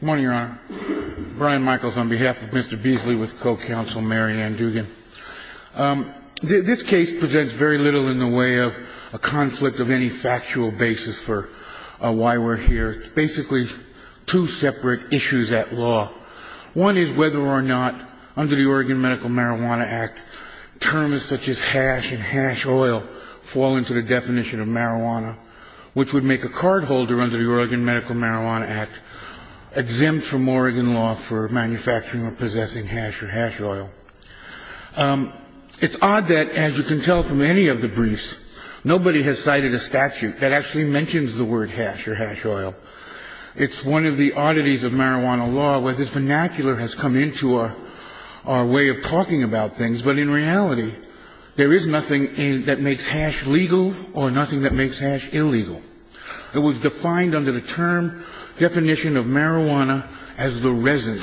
Good morning, Your Honor. Brian Michaels on behalf of Mr. Beasley with Co-Counsel Mary Ann Dugan. This case presents very little in the way of a conflict of any factual basis for why we're here. It's basically two separate issues at law. One is whether or not, under the Oregon Medical Marijuana Act, terms such as hash and hash oil fall into the definition of marijuana, which would make a cardholder under the Oregon Medical Marijuana Act exempt from Oregon law for manufacturing or possessing hash or hash oil. It's odd that, as you can tell from any of the briefs, nobody has cited a statute that actually mentions the word hash or hash oil. It's one of the oddities of marijuana law where this vernacular has come into our way of talking about things, but in reality, there is nothing that makes hash legal or nothing that makes hash illegal. It was defined under the term definition of marijuana as the resin.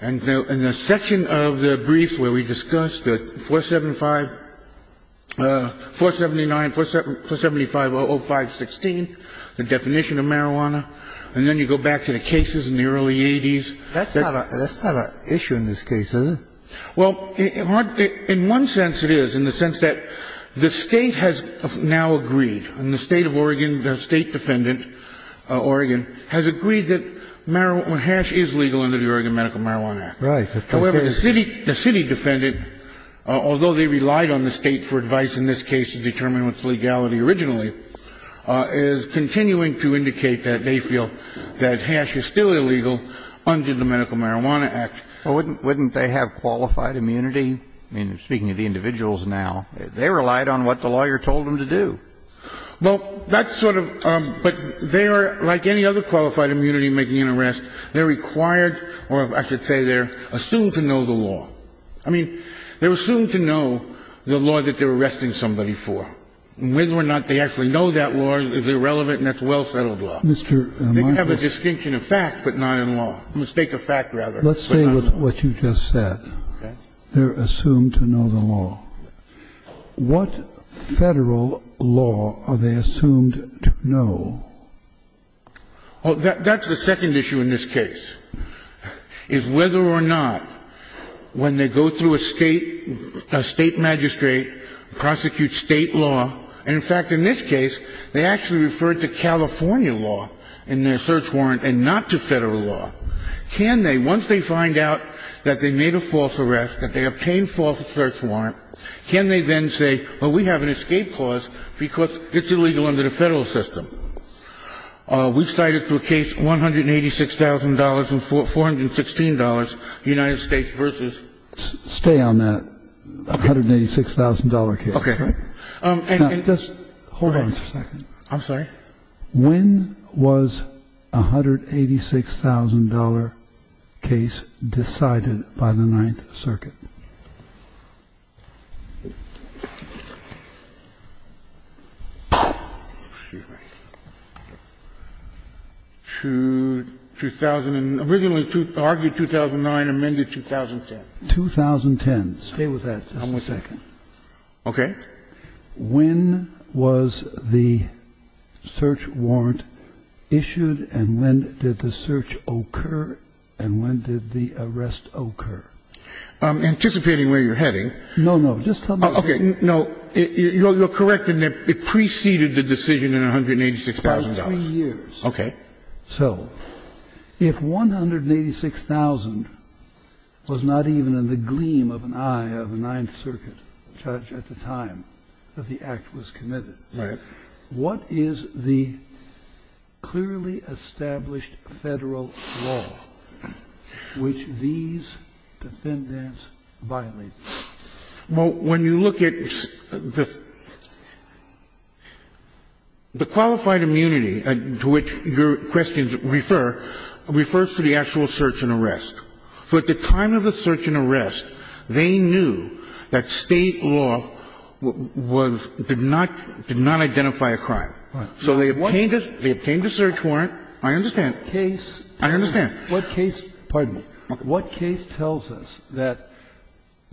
And in the section of the brief where we discussed the 479-475-0516, the definition of marijuana, and then you go back to the cases in the early 80s. That's not an issue in this case, is it? Well, in one sense it is, in the sense that the State has now agreed. And the State of Oregon, the State defendant, Oregon, has agreed that hash is legal under the Oregon Medical Marijuana Act. Right. However, the city defendant, although they relied on the State for advice in this case to determine what's legality originally, is continuing to indicate that they feel that hash is still illegal under the Medical Marijuana Act. Well, wouldn't they have qualified immunity? I mean, speaking of the individuals now, they relied on what the lawyer told them to do. Well, that's sort of ‑‑ but they are, like any other qualified immunity in making an arrest, they're required, or I should say they're assumed to know the law. I mean, they're assumed to know the law that they're arresting somebody for. And whether or not they actually know that law is irrelevant, and that's well-fettled law. They can have a distinction of fact, but not in law. A mistake of fact, rather. Let's stay with what you just said. Okay. They're assumed to know the law. What Federal law are they assumed to know? Oh, that's the second issue in this case, is whether or not when they go through a State magistrate, prosecute State law, and in fact, in this case, they actually referred to California law in their search warrant and not to Federal law. Can they, once they find out that they made a false arrest, that they obtained false search warrant, can they then say, well, we have an escape clause because it's illegal under the Federal system? We cited to a case $186,000 and $416, the United States versus ‑‑ Stay on that $186,000 case. Okay. And just hold on a second. I'm sorry? When was a $186,000 case decided by the Ninth Circuit? 2000 ‑‑ originally argued 2009, amended 2010. 2010. Stay with that. One more second. Okay. When was the search warrant issued and when did the search occur and when did the arrest occur? I'm anticipating where you're heading. No, no. Just tell me ‑‑ Okay. No. You're correct in that it preceded the decision in $186,000. By three years. Okay. So if $186,000 was not even in the gleam of an eye of the Ninth Circuit judge at the time that the act was committed, what is the clearly established Federal law which these defendants violated? Well, when you look at the qualified immunity to which your questions refer, refers to the actual search and arrest. So at the time of the search and arrest, they knew that State law was ‑‑ did not identify a crime. So they obtained a search warrant. I understand. I understand. What case ‑‑ pardon me. What case tells us that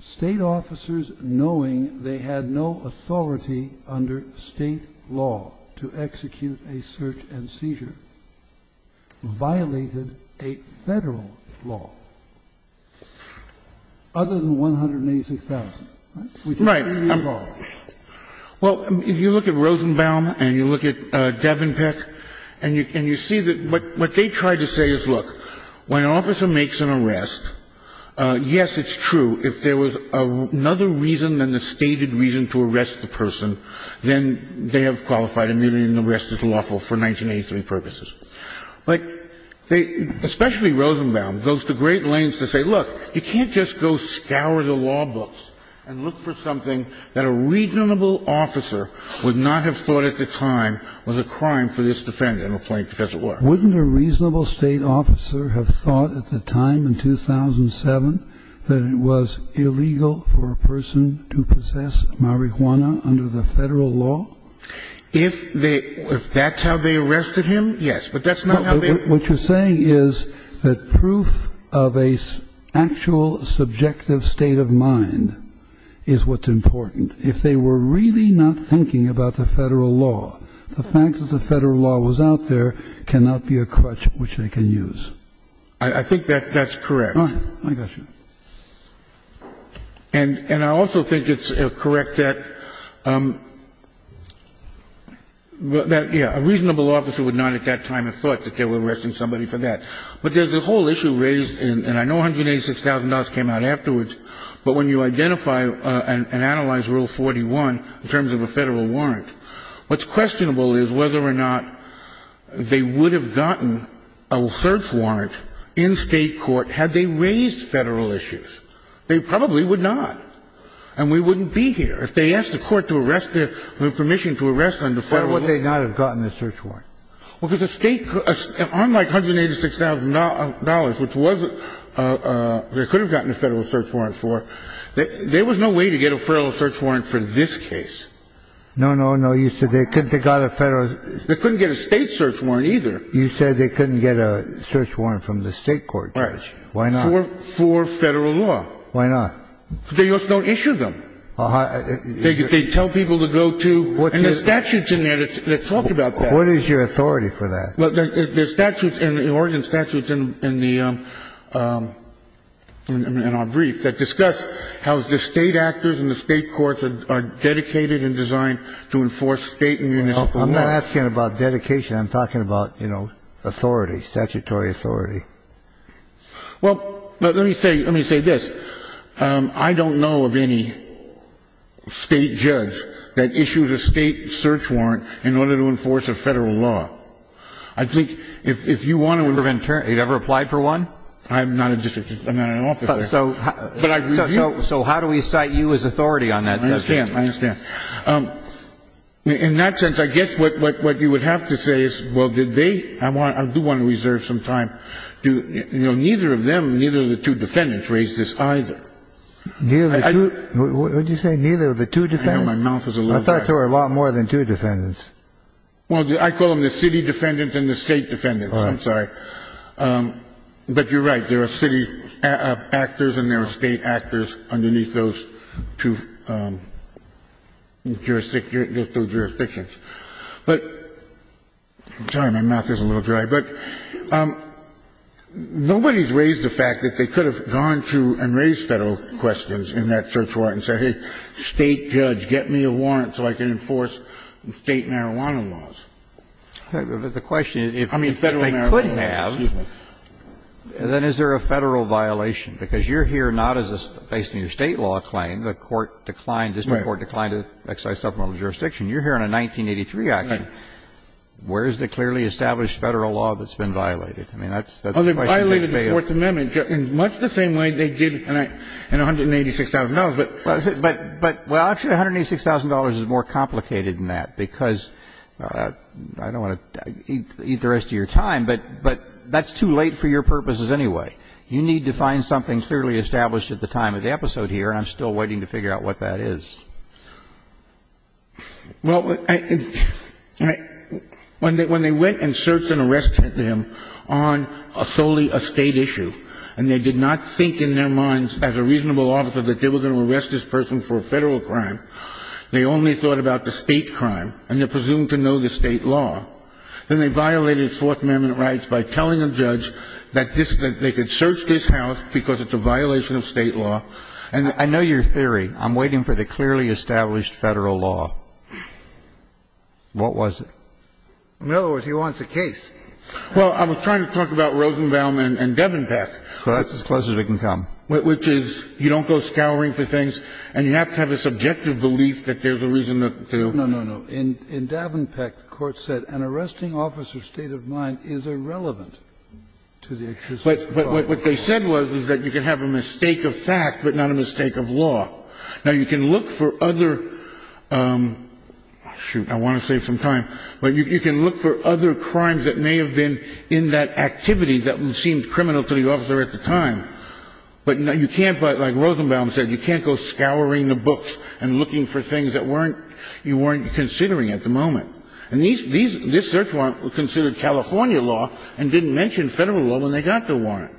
State officers, knowing they had no authority under State law to execute a search and seizure, violated a Federal law other than $186,000? Right. Well, if you look at Rosenbaum and you look at Devenpeck and you see that what they tried to say is, look, when an officer makes an arrest, yes, it's true. If there was another reason than the stated reason to arrest the person, then they have qualified immunity and the rest is lawful for 1983 purposes. But they, especially Rosenbaum, goes to great lengths to say, look, you can't just go scour the law books and look for something that a reasonable officer would not have thought at the time was a crime for this defendant or plaintiff as it were. Wouldn't a reasonable State officer have thought at the time in 2007 that it was illegal for a person to possess marijuana under the Federal law? If they ‑‑ if that's how they arrested him, yes. But that's not how they ‑‑ What you're saying is that proof of an actual subjective state of mind is what's important. If they were really not thinking about the Federal law, the fact that the Federal law was out there cannot be a crutch which they can use. I think that's correct. All right. I got you. And I also think it's correct that, yeah, a reasonable officer would not at that time have thought that they were arresting somebody for that. But there's a whole issue raised, and I know $186,000 came out afterwards, but when you identify and analyze Rule 41 in terms of a Federal warrant, what's questionable is whether or not they would have gotten a search warrant in State court had they raised Federal issues. They probably would not. And we wouldn't be here. If they asked the Court to arrest the ‑‑ to give permission to arrest under Federal law ‑‑ Why would they not have gotten the search warrant? Well, because a State ‑‑ unlike $186,000, which was a ‑‑ they could have gotten a Federal search warrant for. There was no way to get a Federal search warrant for this case. No, no, no. You said they couldn't ‑‑ they got a Federal ‑‑ They couldn't get a State search warrant either. You said they couldn't get a search warrant from the State court, Judge. Right. Why not? For Federal law. Why not? Because they just don't issue them. They tell people to go to ‑‑ And there's statutes in there that talk about that. What is your authority for that? Well, there's statutes in the Oregon statutes in the ‑‑ in our brief that discuss how the State actors and the State courts are dedicated and designed to enforce State and municipal laws. I'm not asking about dedication. I'm talking about, you know, authority, statutory authority. Well, let me say ‑‑ let me say this. I don't know of any State judge that issued a State search warrant in order to enforce a Federal law. I think if you want to ‑‑ You never applied for one? I'm not a district. I'm not an officer. So how do we cite you as authority on that? I understand. I understand. In that sense, I guess what you would have to say is, well, did they ‑‑ I do want to reserve some time. Neither of them, neither of the two defendants raised this either. Neither of the two ‑‑ what did you say? Neither of the two defendants? I thought there were a lot more than two defendants. Well, I call them the City defendants and the State defendants. All right. I'm sorry. But you're right. There are City actors and there are State actors underneath those two jurisdictions. But ‑‑ I'm sorry, my mouth is a little dry. But nobody has raised the fact that they could have gone to and raised Federal questions in that search warrant and said, hey, State judge, get me a warrant so I can enforce State marijuana laws. But the question is, if they could have, then is there a Federal violation? Because you're here not as a ‑‑ based on your State law claim, the court declined, district court declined to exercise supplemental jurisdiction. You're here on a 1983 action. Right. Where is the clearly established Federal law that's been violated? I mean, that's the question to take away. In much the same way they did in $186,000. But, well, actually, $186,000 is more complicated than that, because I don't want to eat the rest of your time, but that's too late for your purposes anyway. You need to find something clearly established at the time of the episode here, and I'm still waiting to figure out what that is. Well, when they went and searched and arrested them on solely a State issue, and they did not think in their minds as a reasonable officer that they were going to arrest this person for a Federal crime, they only thought about the State crime, and they're presumed to know the State law. Then they violated Fourth Amendment rights by telling a judge that they could search this house because it's a violation of State law. I know your theory. I'm waiting for the clearly established Federal law. What was it? In other words, he wants a case. Well, I was trying to talk about Rosenbaum and Davenport. Well, that's as close as it can come. Which is, you don't go scouring for things, and you have to have a subjective belief that there's a reason to. No, no, no. In Davenport, the Court said an arresting officer's state of mind is irrelevant to the existence of a Federal law. But what they said was, is that you can have a mistake of fact, but not a mistake of law. Now, you can look for other – shoot, I want to save some time. But you can look for other crimes that may have been in that activity that seemed criminal to the officer at the time. But you can't, like Rosenbaum said, you can't go scouring the books and looking for things that weren't – you weren't considering at the moment. And these – this search warrant was considered California law and didn't mention Federal law when they got the warrant.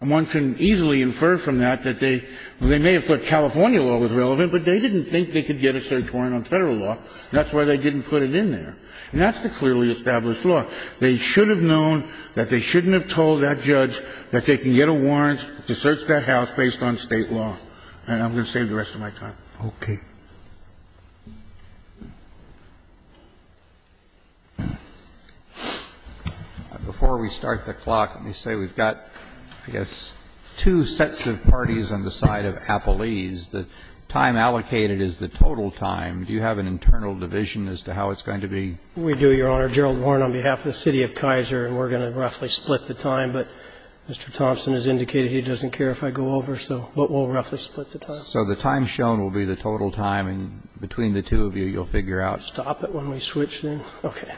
And one can easily infer from that that they – they may have thought California law was relevant, but they didn't think they could get a search warrant on Federal law, and that's why they didn't put it in there. And that's the clearly established law. They should have known that they shouldn't have told that judge that they can get a warrant to search their house based on State law. And I'm going to save the rest of my time. Okay. Before we start the clock, let me say we've got, I guess, two sets of parties on the side of Appellee's. The time allocated is the total time. Do you have an internal division as to how it's going to be? We do, Your Honor. Gerald Warren, on behalf of the city of Kaiser, and we're going to roughly split the time, but Mr. Thompson has indicated he doesn't care if I go over, so we'll roughly split the time. So the time shown will be the total time, and between the two of you, you'll figure out. Stop it when we switch, then. Okay.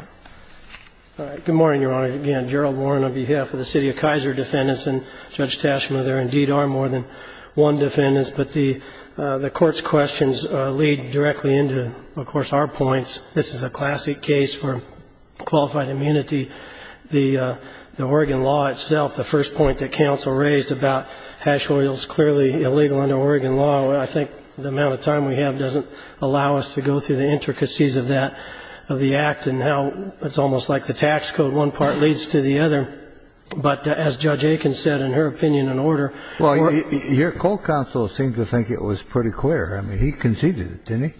All right. Good morning, Your Honor. Again, Gerald Warren on behalf of the city of Kaiser defendants, and Judge Taschma, there indeed are more than one defendants. But the Court's questions lead directly into, of course, our points. This is a classic case for qualified immunity. The Oregon law itself, the first point that counsel raised about hash oils clearly illegal under Oregon law, I think the amount of time we have doesn't allow us to go through the intricacies of that, of the act, and how it's almost like the tax code, one part leads to the other. But as Judge Aiken said, in her opinion, in order to... Well, your co-counsel seemed to think it was pretty clear. I mean, he conceded it, didn't he?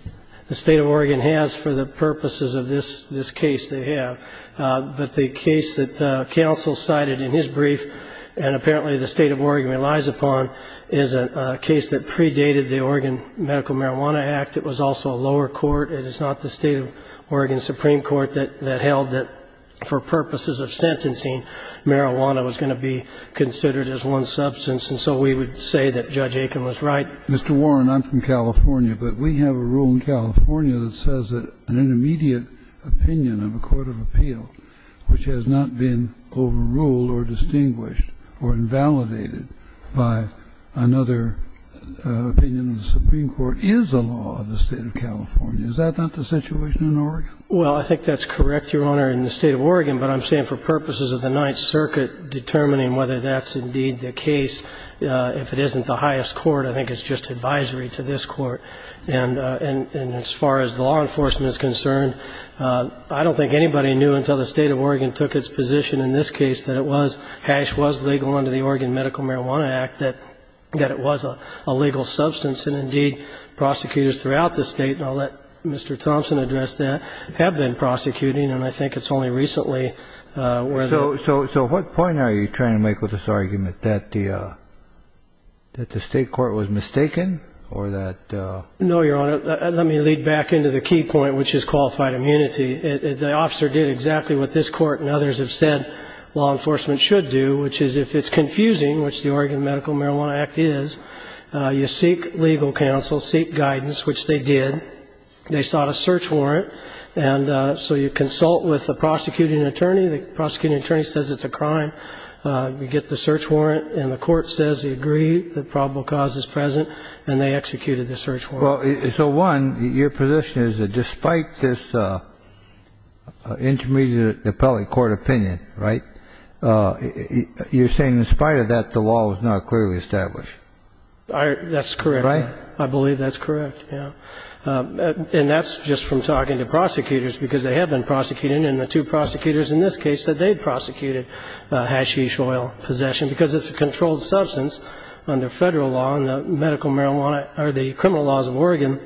The state of Oregon has for the purposes of this case, they have. But the case that counsel cited in his brief, and apparently the state of Oregon relies upon, is a case that predated the Oregon Medical Marijuana Act. It was also a lower court. It is not the state of Oregon Supreme Court that held that for purposes of sentencing, marijuana was going to be considered as one substance. And so we would say that Judge Aiken was right. Mr. Warren, I'm from California. But we have a rule in California that says that an intermediate opinion of a court of appeal which has not been overruled or distinguished or invalidated by another opinion of the Supreme Court is a law of the state of California. Is that not the situation in Oregon? Well, I think that's correct, Your Honor, in the state of Oregon. But I'm saying for purposes of the Ninth Circuit determining whether that's indeed the case, if it isn't the highest court, I think it's just advisory to this court. And as far as the law enforcement is concerned, I don't think anybody knew until the state of Oregon took its position in this case that it was, hash was legal under the Oregon Medical Marijuana Act, that it was a legal substance. And indeed, prosecutors throughout the state, and I'll let Mr. Thompson address that, have been prosecuting. And I think it's only recently where the ---- So what point are you trying to make with this argument, that the state court was mistaken or that ---- No, Your Honor. Let me lead back into the key point, which is qualified immunity. The officer did exactly what this court and others have said law enforcement should do, which is if it's confusing, which the Oregon Medical Marijuana Act is, you seek legal counsel, seek guidance, which they did. They sought a search warrant. And so you consult with the prosecuting attorney. The prosecuting attorney says it's a crime. You get the search warrant. And the court says they agree that probable cause is present. And they executed the search warrant. Well, so one, your position is that despite this intermediate appellate court opinion, right, you're saying in spite of that, the law was not clearly established. That's correct. Right? I believe that's correct, yeah. And that's just from talking to prosecutors, because they have been prosecuting. And the two prosecutors in this case said they had prosecuted hashish oil possession because it's a controlled substance under Federal law. And the medical marijuana or the criminal laws of Oregon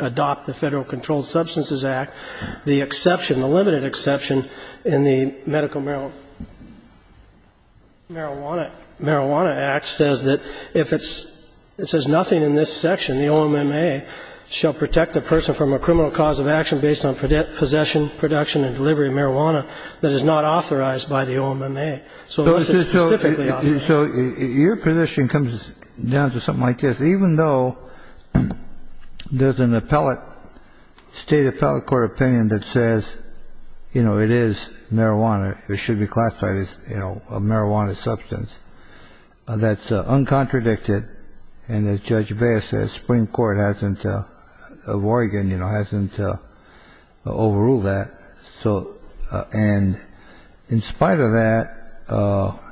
adopt the Federal Controlled Substances Act. The exception, the limited exception in the Medical Marijuana Act says that if it's nothing in this section, the OMMA shall protect the person from a criminal cause of action based on possession, production and delivery of marijuana that is not authorized by the OMMA. So this is specifically obvious. So your position comes down to something like this. Even though there's an appellate, state appellate court opinion that says, you know, it is marijuana, it should be classified as, you know, a marijuana substance, that's uncontradicted. And as Judge Baez says, Supreme Court hasn't, of Oregon, you know, hasn't overruled that. And in spite of that,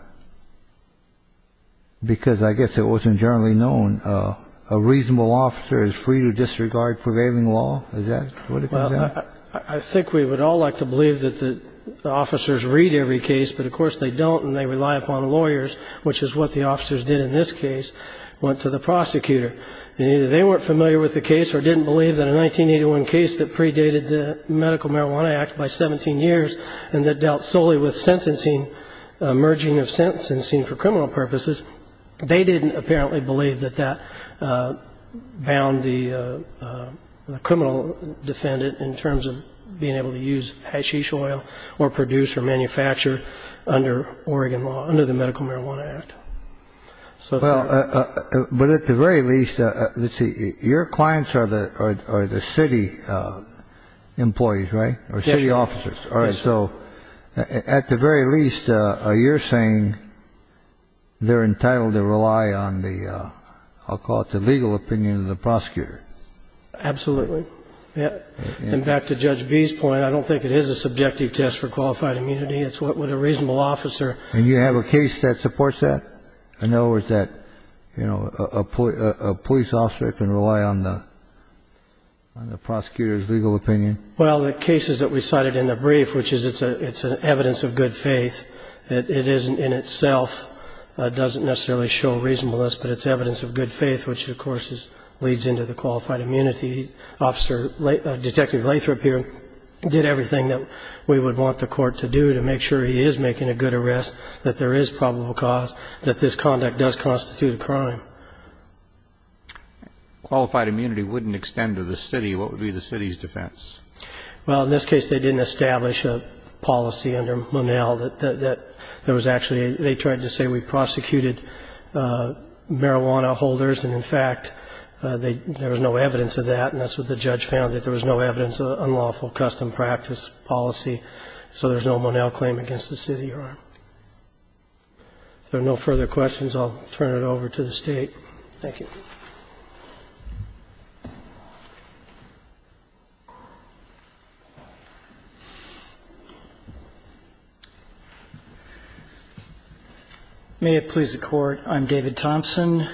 because I guess it wasn't generally known, a reasonable officer is free to disregard prevailing law? Is that what it comes down to? Well, I think we would all like to believe that the officers read every case. But, of course, they don't, and they rely upon lawyers, which is what the officers did in this case, went to the prosecutor. And either they weren't familiar with the case or didn't believe that a 1981 case that dealt solely with sentencing, merging of sentencing for criminal purposes, they didn't apparently believe that that bound the criminal defendant in terms of being able to use hashish oil or produce or manufacture under Oregon law, under the Medical Marijuana Act. Well, but at the very least, let's see, your clients are the city employees, right? Or city officers. All right. So at the very least, you're saying they're entitled to rely on the, I'll call it the legal opinion of the prosecutor. Absolutely. And back to Judge B's point, I don't think it is a subjective test for qualified immunity. It's what a reasonable officer. And you have a case that supports that? In other words, that, you know, a police officer can rely on the prosecutor's legal opinion? Well, the cases that we cited in the brief, which is it's an evidence of good faith, it isn't in itself, doesn't necessarily show reasonableness, but it's evidence of good faith, which of course leads into the qualified immunity. Detective Lathrop here did everything that we would want the court to do to make sure he is making a good arrest, that there is probable cause, that this conduct does constitute a crime. Qualified immunity wouldn't extend to the city. What would be the city's defense? Well, in this case, they didn't establish a policy under Monell that there was actually they tried to say we prosecuted marijuana holders, and in fact, there was no evidence of that, and that's what the judge found, that there was no evidence of unlawful custom practice policy, so there's no Monell claim against the city. If there are no further questions, I'll turn it over to the State. Thank you. May it please the Court. I'm David Thompson,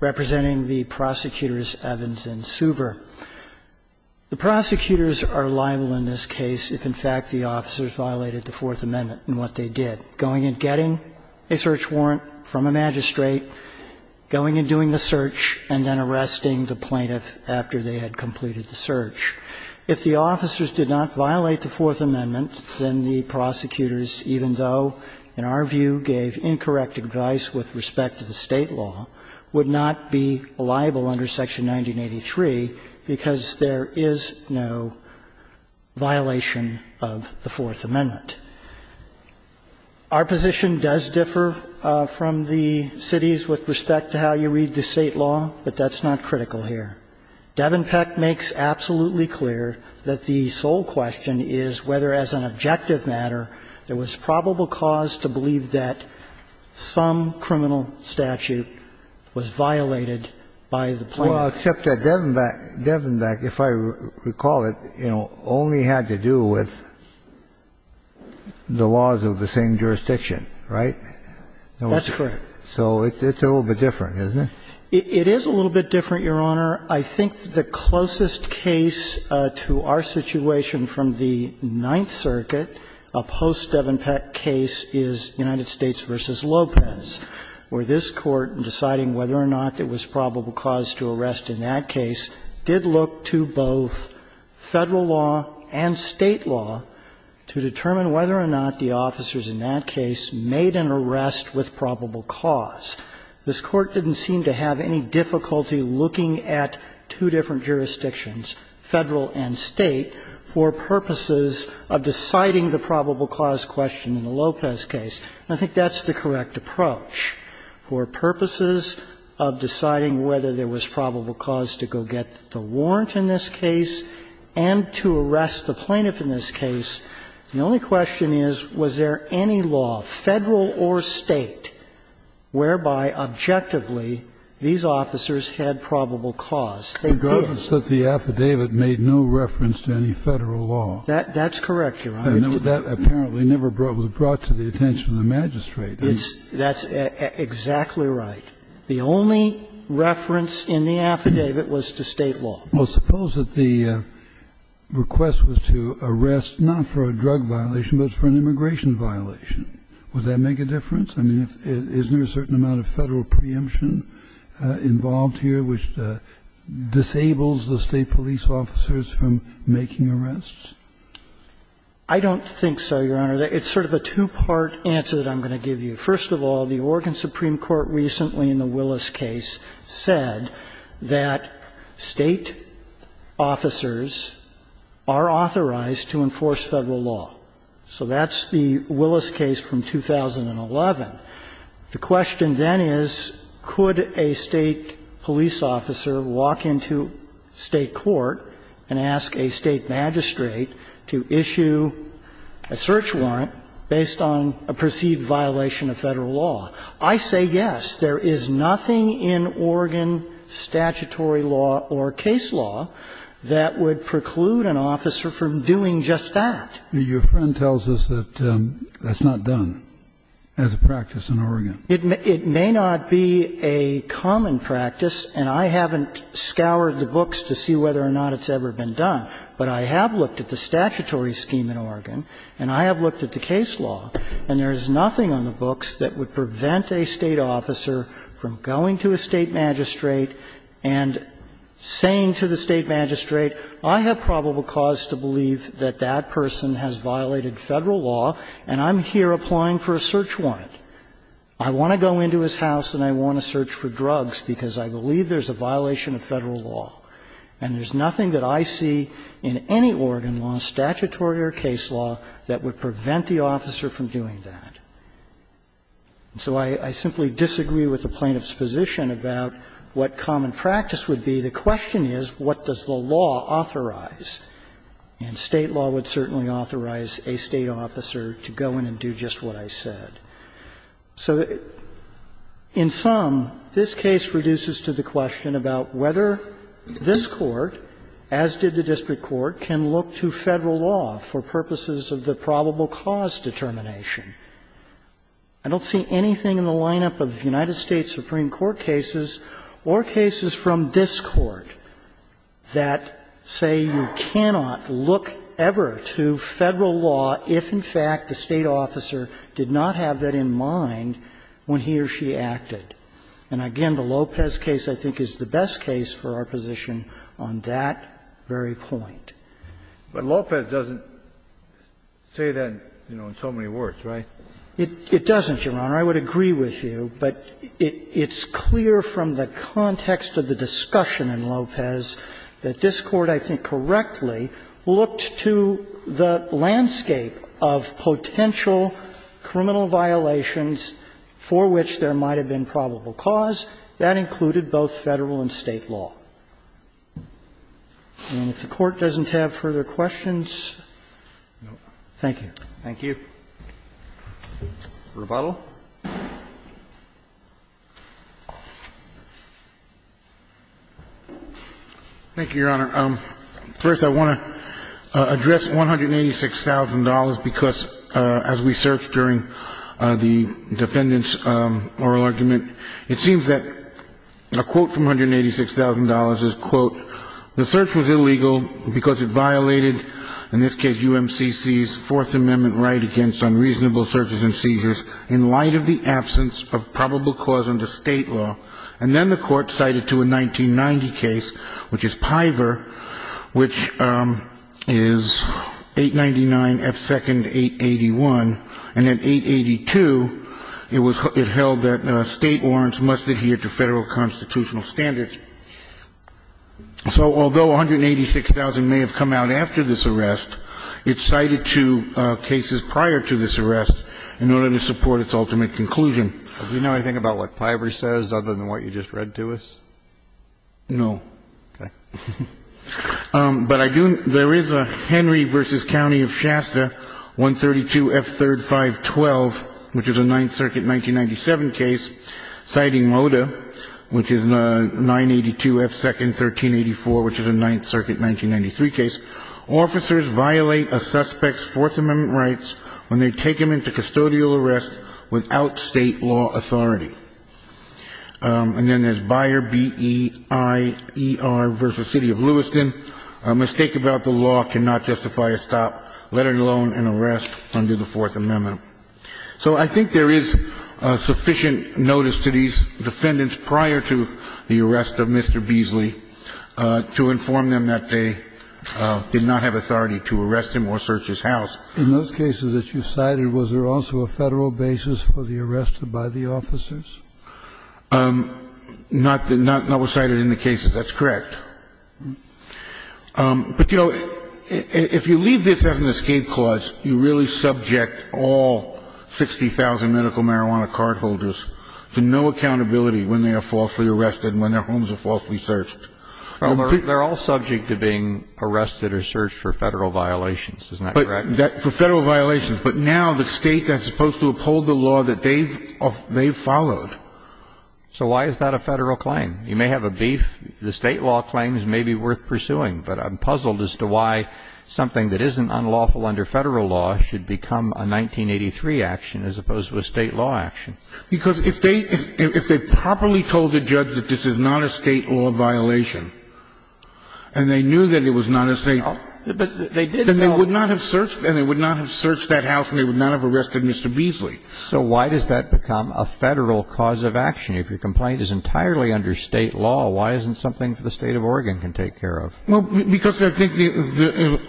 representing the prosecutors Evans and Suver. The prosecutors are liable in this case if, in fact, the officers violated the Fourth Amendment in what they did, going and getting a search warrant from a magistrate, going and doing the search, and then arresting the plaintiff after they had completed the search. If the officers did not violate the Fourth Amendment, then the prosecutors, even though, in our view, gave incorrect advice with respect to the State law, would not be liable under Section 1983 because there is no violation of the Fourth Amendment. Our position does differ from the city's with respect to how you read the State law, but that's not critical here. Devenbeck makes absolutely clear that the sole question is whether, as an objective matter, there was probable cause to believe that some criminal statute was violated by the plaintiff. Well, except that Devenbeck, if I recall it, you know, only had to do with the laws of the same jurisdiction, right? That's correct. So it's a little bit different, isn't it? It is a little bit different, Your Honor. I think the closest case to our situation from the Ninth Circuit, a post-Devenbeck case, is United States v. Lopez, where this Court, in deciding whether or not there was probable cause to arrest in that case, did look to both Federal law and State law to determine whether or not the officers in that case made an arrest with probable cause. This Court didn't seem to have any difficulty looking at two different jurisdictions, Federal and State, for purposes of deciding the probable cause question in the Lopez case. And I think that's the correct approach. For purposes of deciding whether there was probable cause to go get the warrant in this case and to arrest the plaintiff in this case, the only question is, was there any law, Federal or State, whereby, objectively, these officers had probable cause? They did. Kennedy, regardless that the affidavit made no reference to any Federal law. That's correct, Your Honor. And that apparently never was brought to the attention of the magistrate. That's exactly right. The only reference in the affidavit was to State law. Well, suppose that the request was to arrest, not for a drug violation, but for an immigration violation. Would that make a difference? I mean, isn't there a certain amount of Federal preemption involved here which disables the State police officers from making arrests? I don't think so, Your Honor. It's sort of a two-part answer that I'm going to give you. First of all, the Oregon Supreme Court recently, in the Willis case, said that State officers are authorized to enforce Federal law. So that's the Willis case from 2011. The question then is, could a State police officer walk into State court and ask a State magistrate to issue a search warrant based on a perceived violation of Federal law? I say yes. There is nothing in Oregon statutory law or case law that would preclude an officer from doing just that. Your friend tells us that that's not done as a practice in Oregon. It may not be a common practice, and I haven't scoured the books to see whether or not it's ever been done. But I have looked at the statutory scheme in Oregon, and I have looked at the case law, and there is nothing on the books that would prevent a State officer from going to a State magistrate and saying to the State magistrate, I have probable cause to believe that that person has violated Federal law, and I'm here applying for a search warrant. I want to go into his house and I want to search for drugs because I believe there's a violation of Federal law. And there's nothing that I see in any Oregon law, statutory or case law, that would prevent the officer from doing that. So I simply disagree with the plaintiff's position about what common practice would be. The question is, what does the law authorize? And State law would certainly authorize a State officer to go in and do just what I said. So in sum, this case reduces to the question about whether this Court, as did the district court, can look to Federal law for purposes of the probable cause determination. I don't see anything in the lineup of United States Supreme Court cases or cases from this Court that say you cannot look ever to Federal law if, in fact, the State officer did not have that in mind when he or she acted. And, again, the Lopez case, I think, is the best case for our position on that very point. Kennedy, but Lopez doesn't say that, you know, in so many words, right? It doesn't, Your Honor. I would agree with you, but it's clear from the context of the discussion in Lopez that this Court, I think, correctly looked to the landscape of potential criminal violations for which there might have been probable cause. That included both Federal and State law. And if the Court doesn't have further questions, thank you. Roberts. Thank you. Rebuttal. Thank you, Your Honor. First, I want to address $186,000 because, as we searched during the defendant's oral argument, it seems that a quote from $186,000 is, quote, The search was illegal because it violated, in this case, UMCC's Fourth Amendment right against unreasonable searches and seizures in light of the absence of probable cause under State law. And then the Court cited to a 1990 case, which is Piver, which is 899 F. 2nd. 881. And at 882, it held that State warrants must adhere to Federal constitutional standards. So although $186,000 may have come out after this arrest, it cited two cases prior to this arrest in order to support its ultimate conclusion. Do you know anything about what Piver says other than what you just read to us? No. Okay. But I do know there is a Henry v. County of Shasta, 132 F. 3rd, 512, which is a Ninth Circuit 1997 case, citing Loda, which is a 9th Circuit 1993 case, officers violate a suspect's Fourth Amendment rights when they take him into custodial arrest without State law authority. And then there's Byer, B-E-I-E-R v. City of Lewiston, a mistake about the law cannot justify a stop, let alone an arrest under the Fourth Amendment. So I think there is sufficient notice to these defendants prior to the arrest of Mr. Beasley to inform them that they did not have authority to arrest him or search his house. In those cases that you cited, was there also a Federal basis for the arrest by the officers? Not that we cited in the cases. That's correct. But, you know, if you leave this as an escape clause, you really subject all 60,000 medical marijuana cardholders to no accountability when they are falsely arrested and when their homes are falsely searched. They're all subject to being arrested or searched for Federal violations, isn't that correct? For Federal violations. But now the State that's supposed to uphold the law that they've followed. So why is that a Federal claim? You may have a beef. The State law claims may be worth pursuing. But I'm puzzled as to why something that isn't unlawful under Federal law should become a 1983 action as opposed to a State law action. Because if they properly told the judge that this is not a State law violation and they knew that it was not a State law, then they would not have searched that house and they would not have arrested Mr. Beasley. So why does that become a Federal cause of action? If your complaint is entirely under State law, why isn't something the State of Oregon can take care of? Well, because I think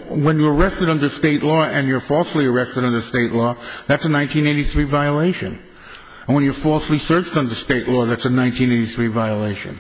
when you're arrested under State law and you're falsely arrested under State law, that's a 1983 violation. And when you're falsely searched under State law, that's a 1983 violation.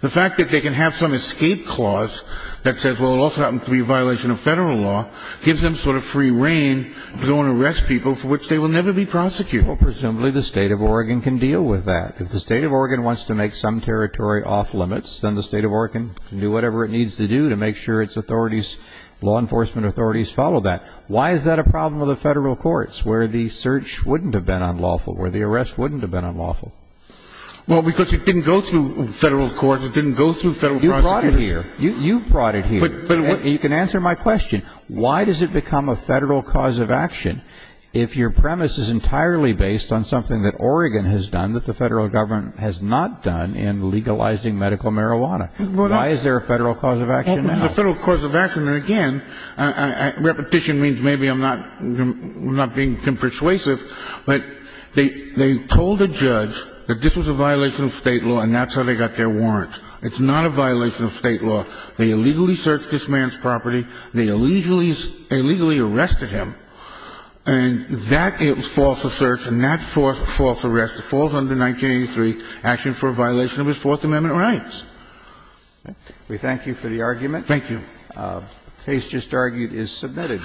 The fact that they can have some escape clause that says, well, it also happens to be a violation of Federal law, gives them sort of free reign to go and arrest people for which they will never be prosecuted. Well, presumably the State of Oregon can deal with that. If the State of Oregon wants to make some territory off limits, then the State of Oregon can do whatever it needs to do to make sure its authorities, law enforcement authorities, follow that. Why is that a problem with the Federal courts, where the search wouldn't have been unlawful, where the arrest wouldn't have been unlawful? Well, because it didn't go through Federal courts, it didn't go through Federal prosecutors. You brought it here. You can answer my question. Why does it become a Federal cause of action if your premise is entirely based on something that Oregon has done that the Federal government has not done in legalizing medical marijuana? Why is there a Federal cause of action now? The Federal cause of action, and again, repetition means maybe I'm not being persuasive, but they told a judge that this was a violation of State law and that's how they got their warrant. It's not a violation of State law. They illegally searched this man's property. They illegally arrested him. And that false search and that false arrest falls under 1983, action for a violation of his Fourth Amendment rights. We thank you for the argument. Thank you. The case just argued is submitted.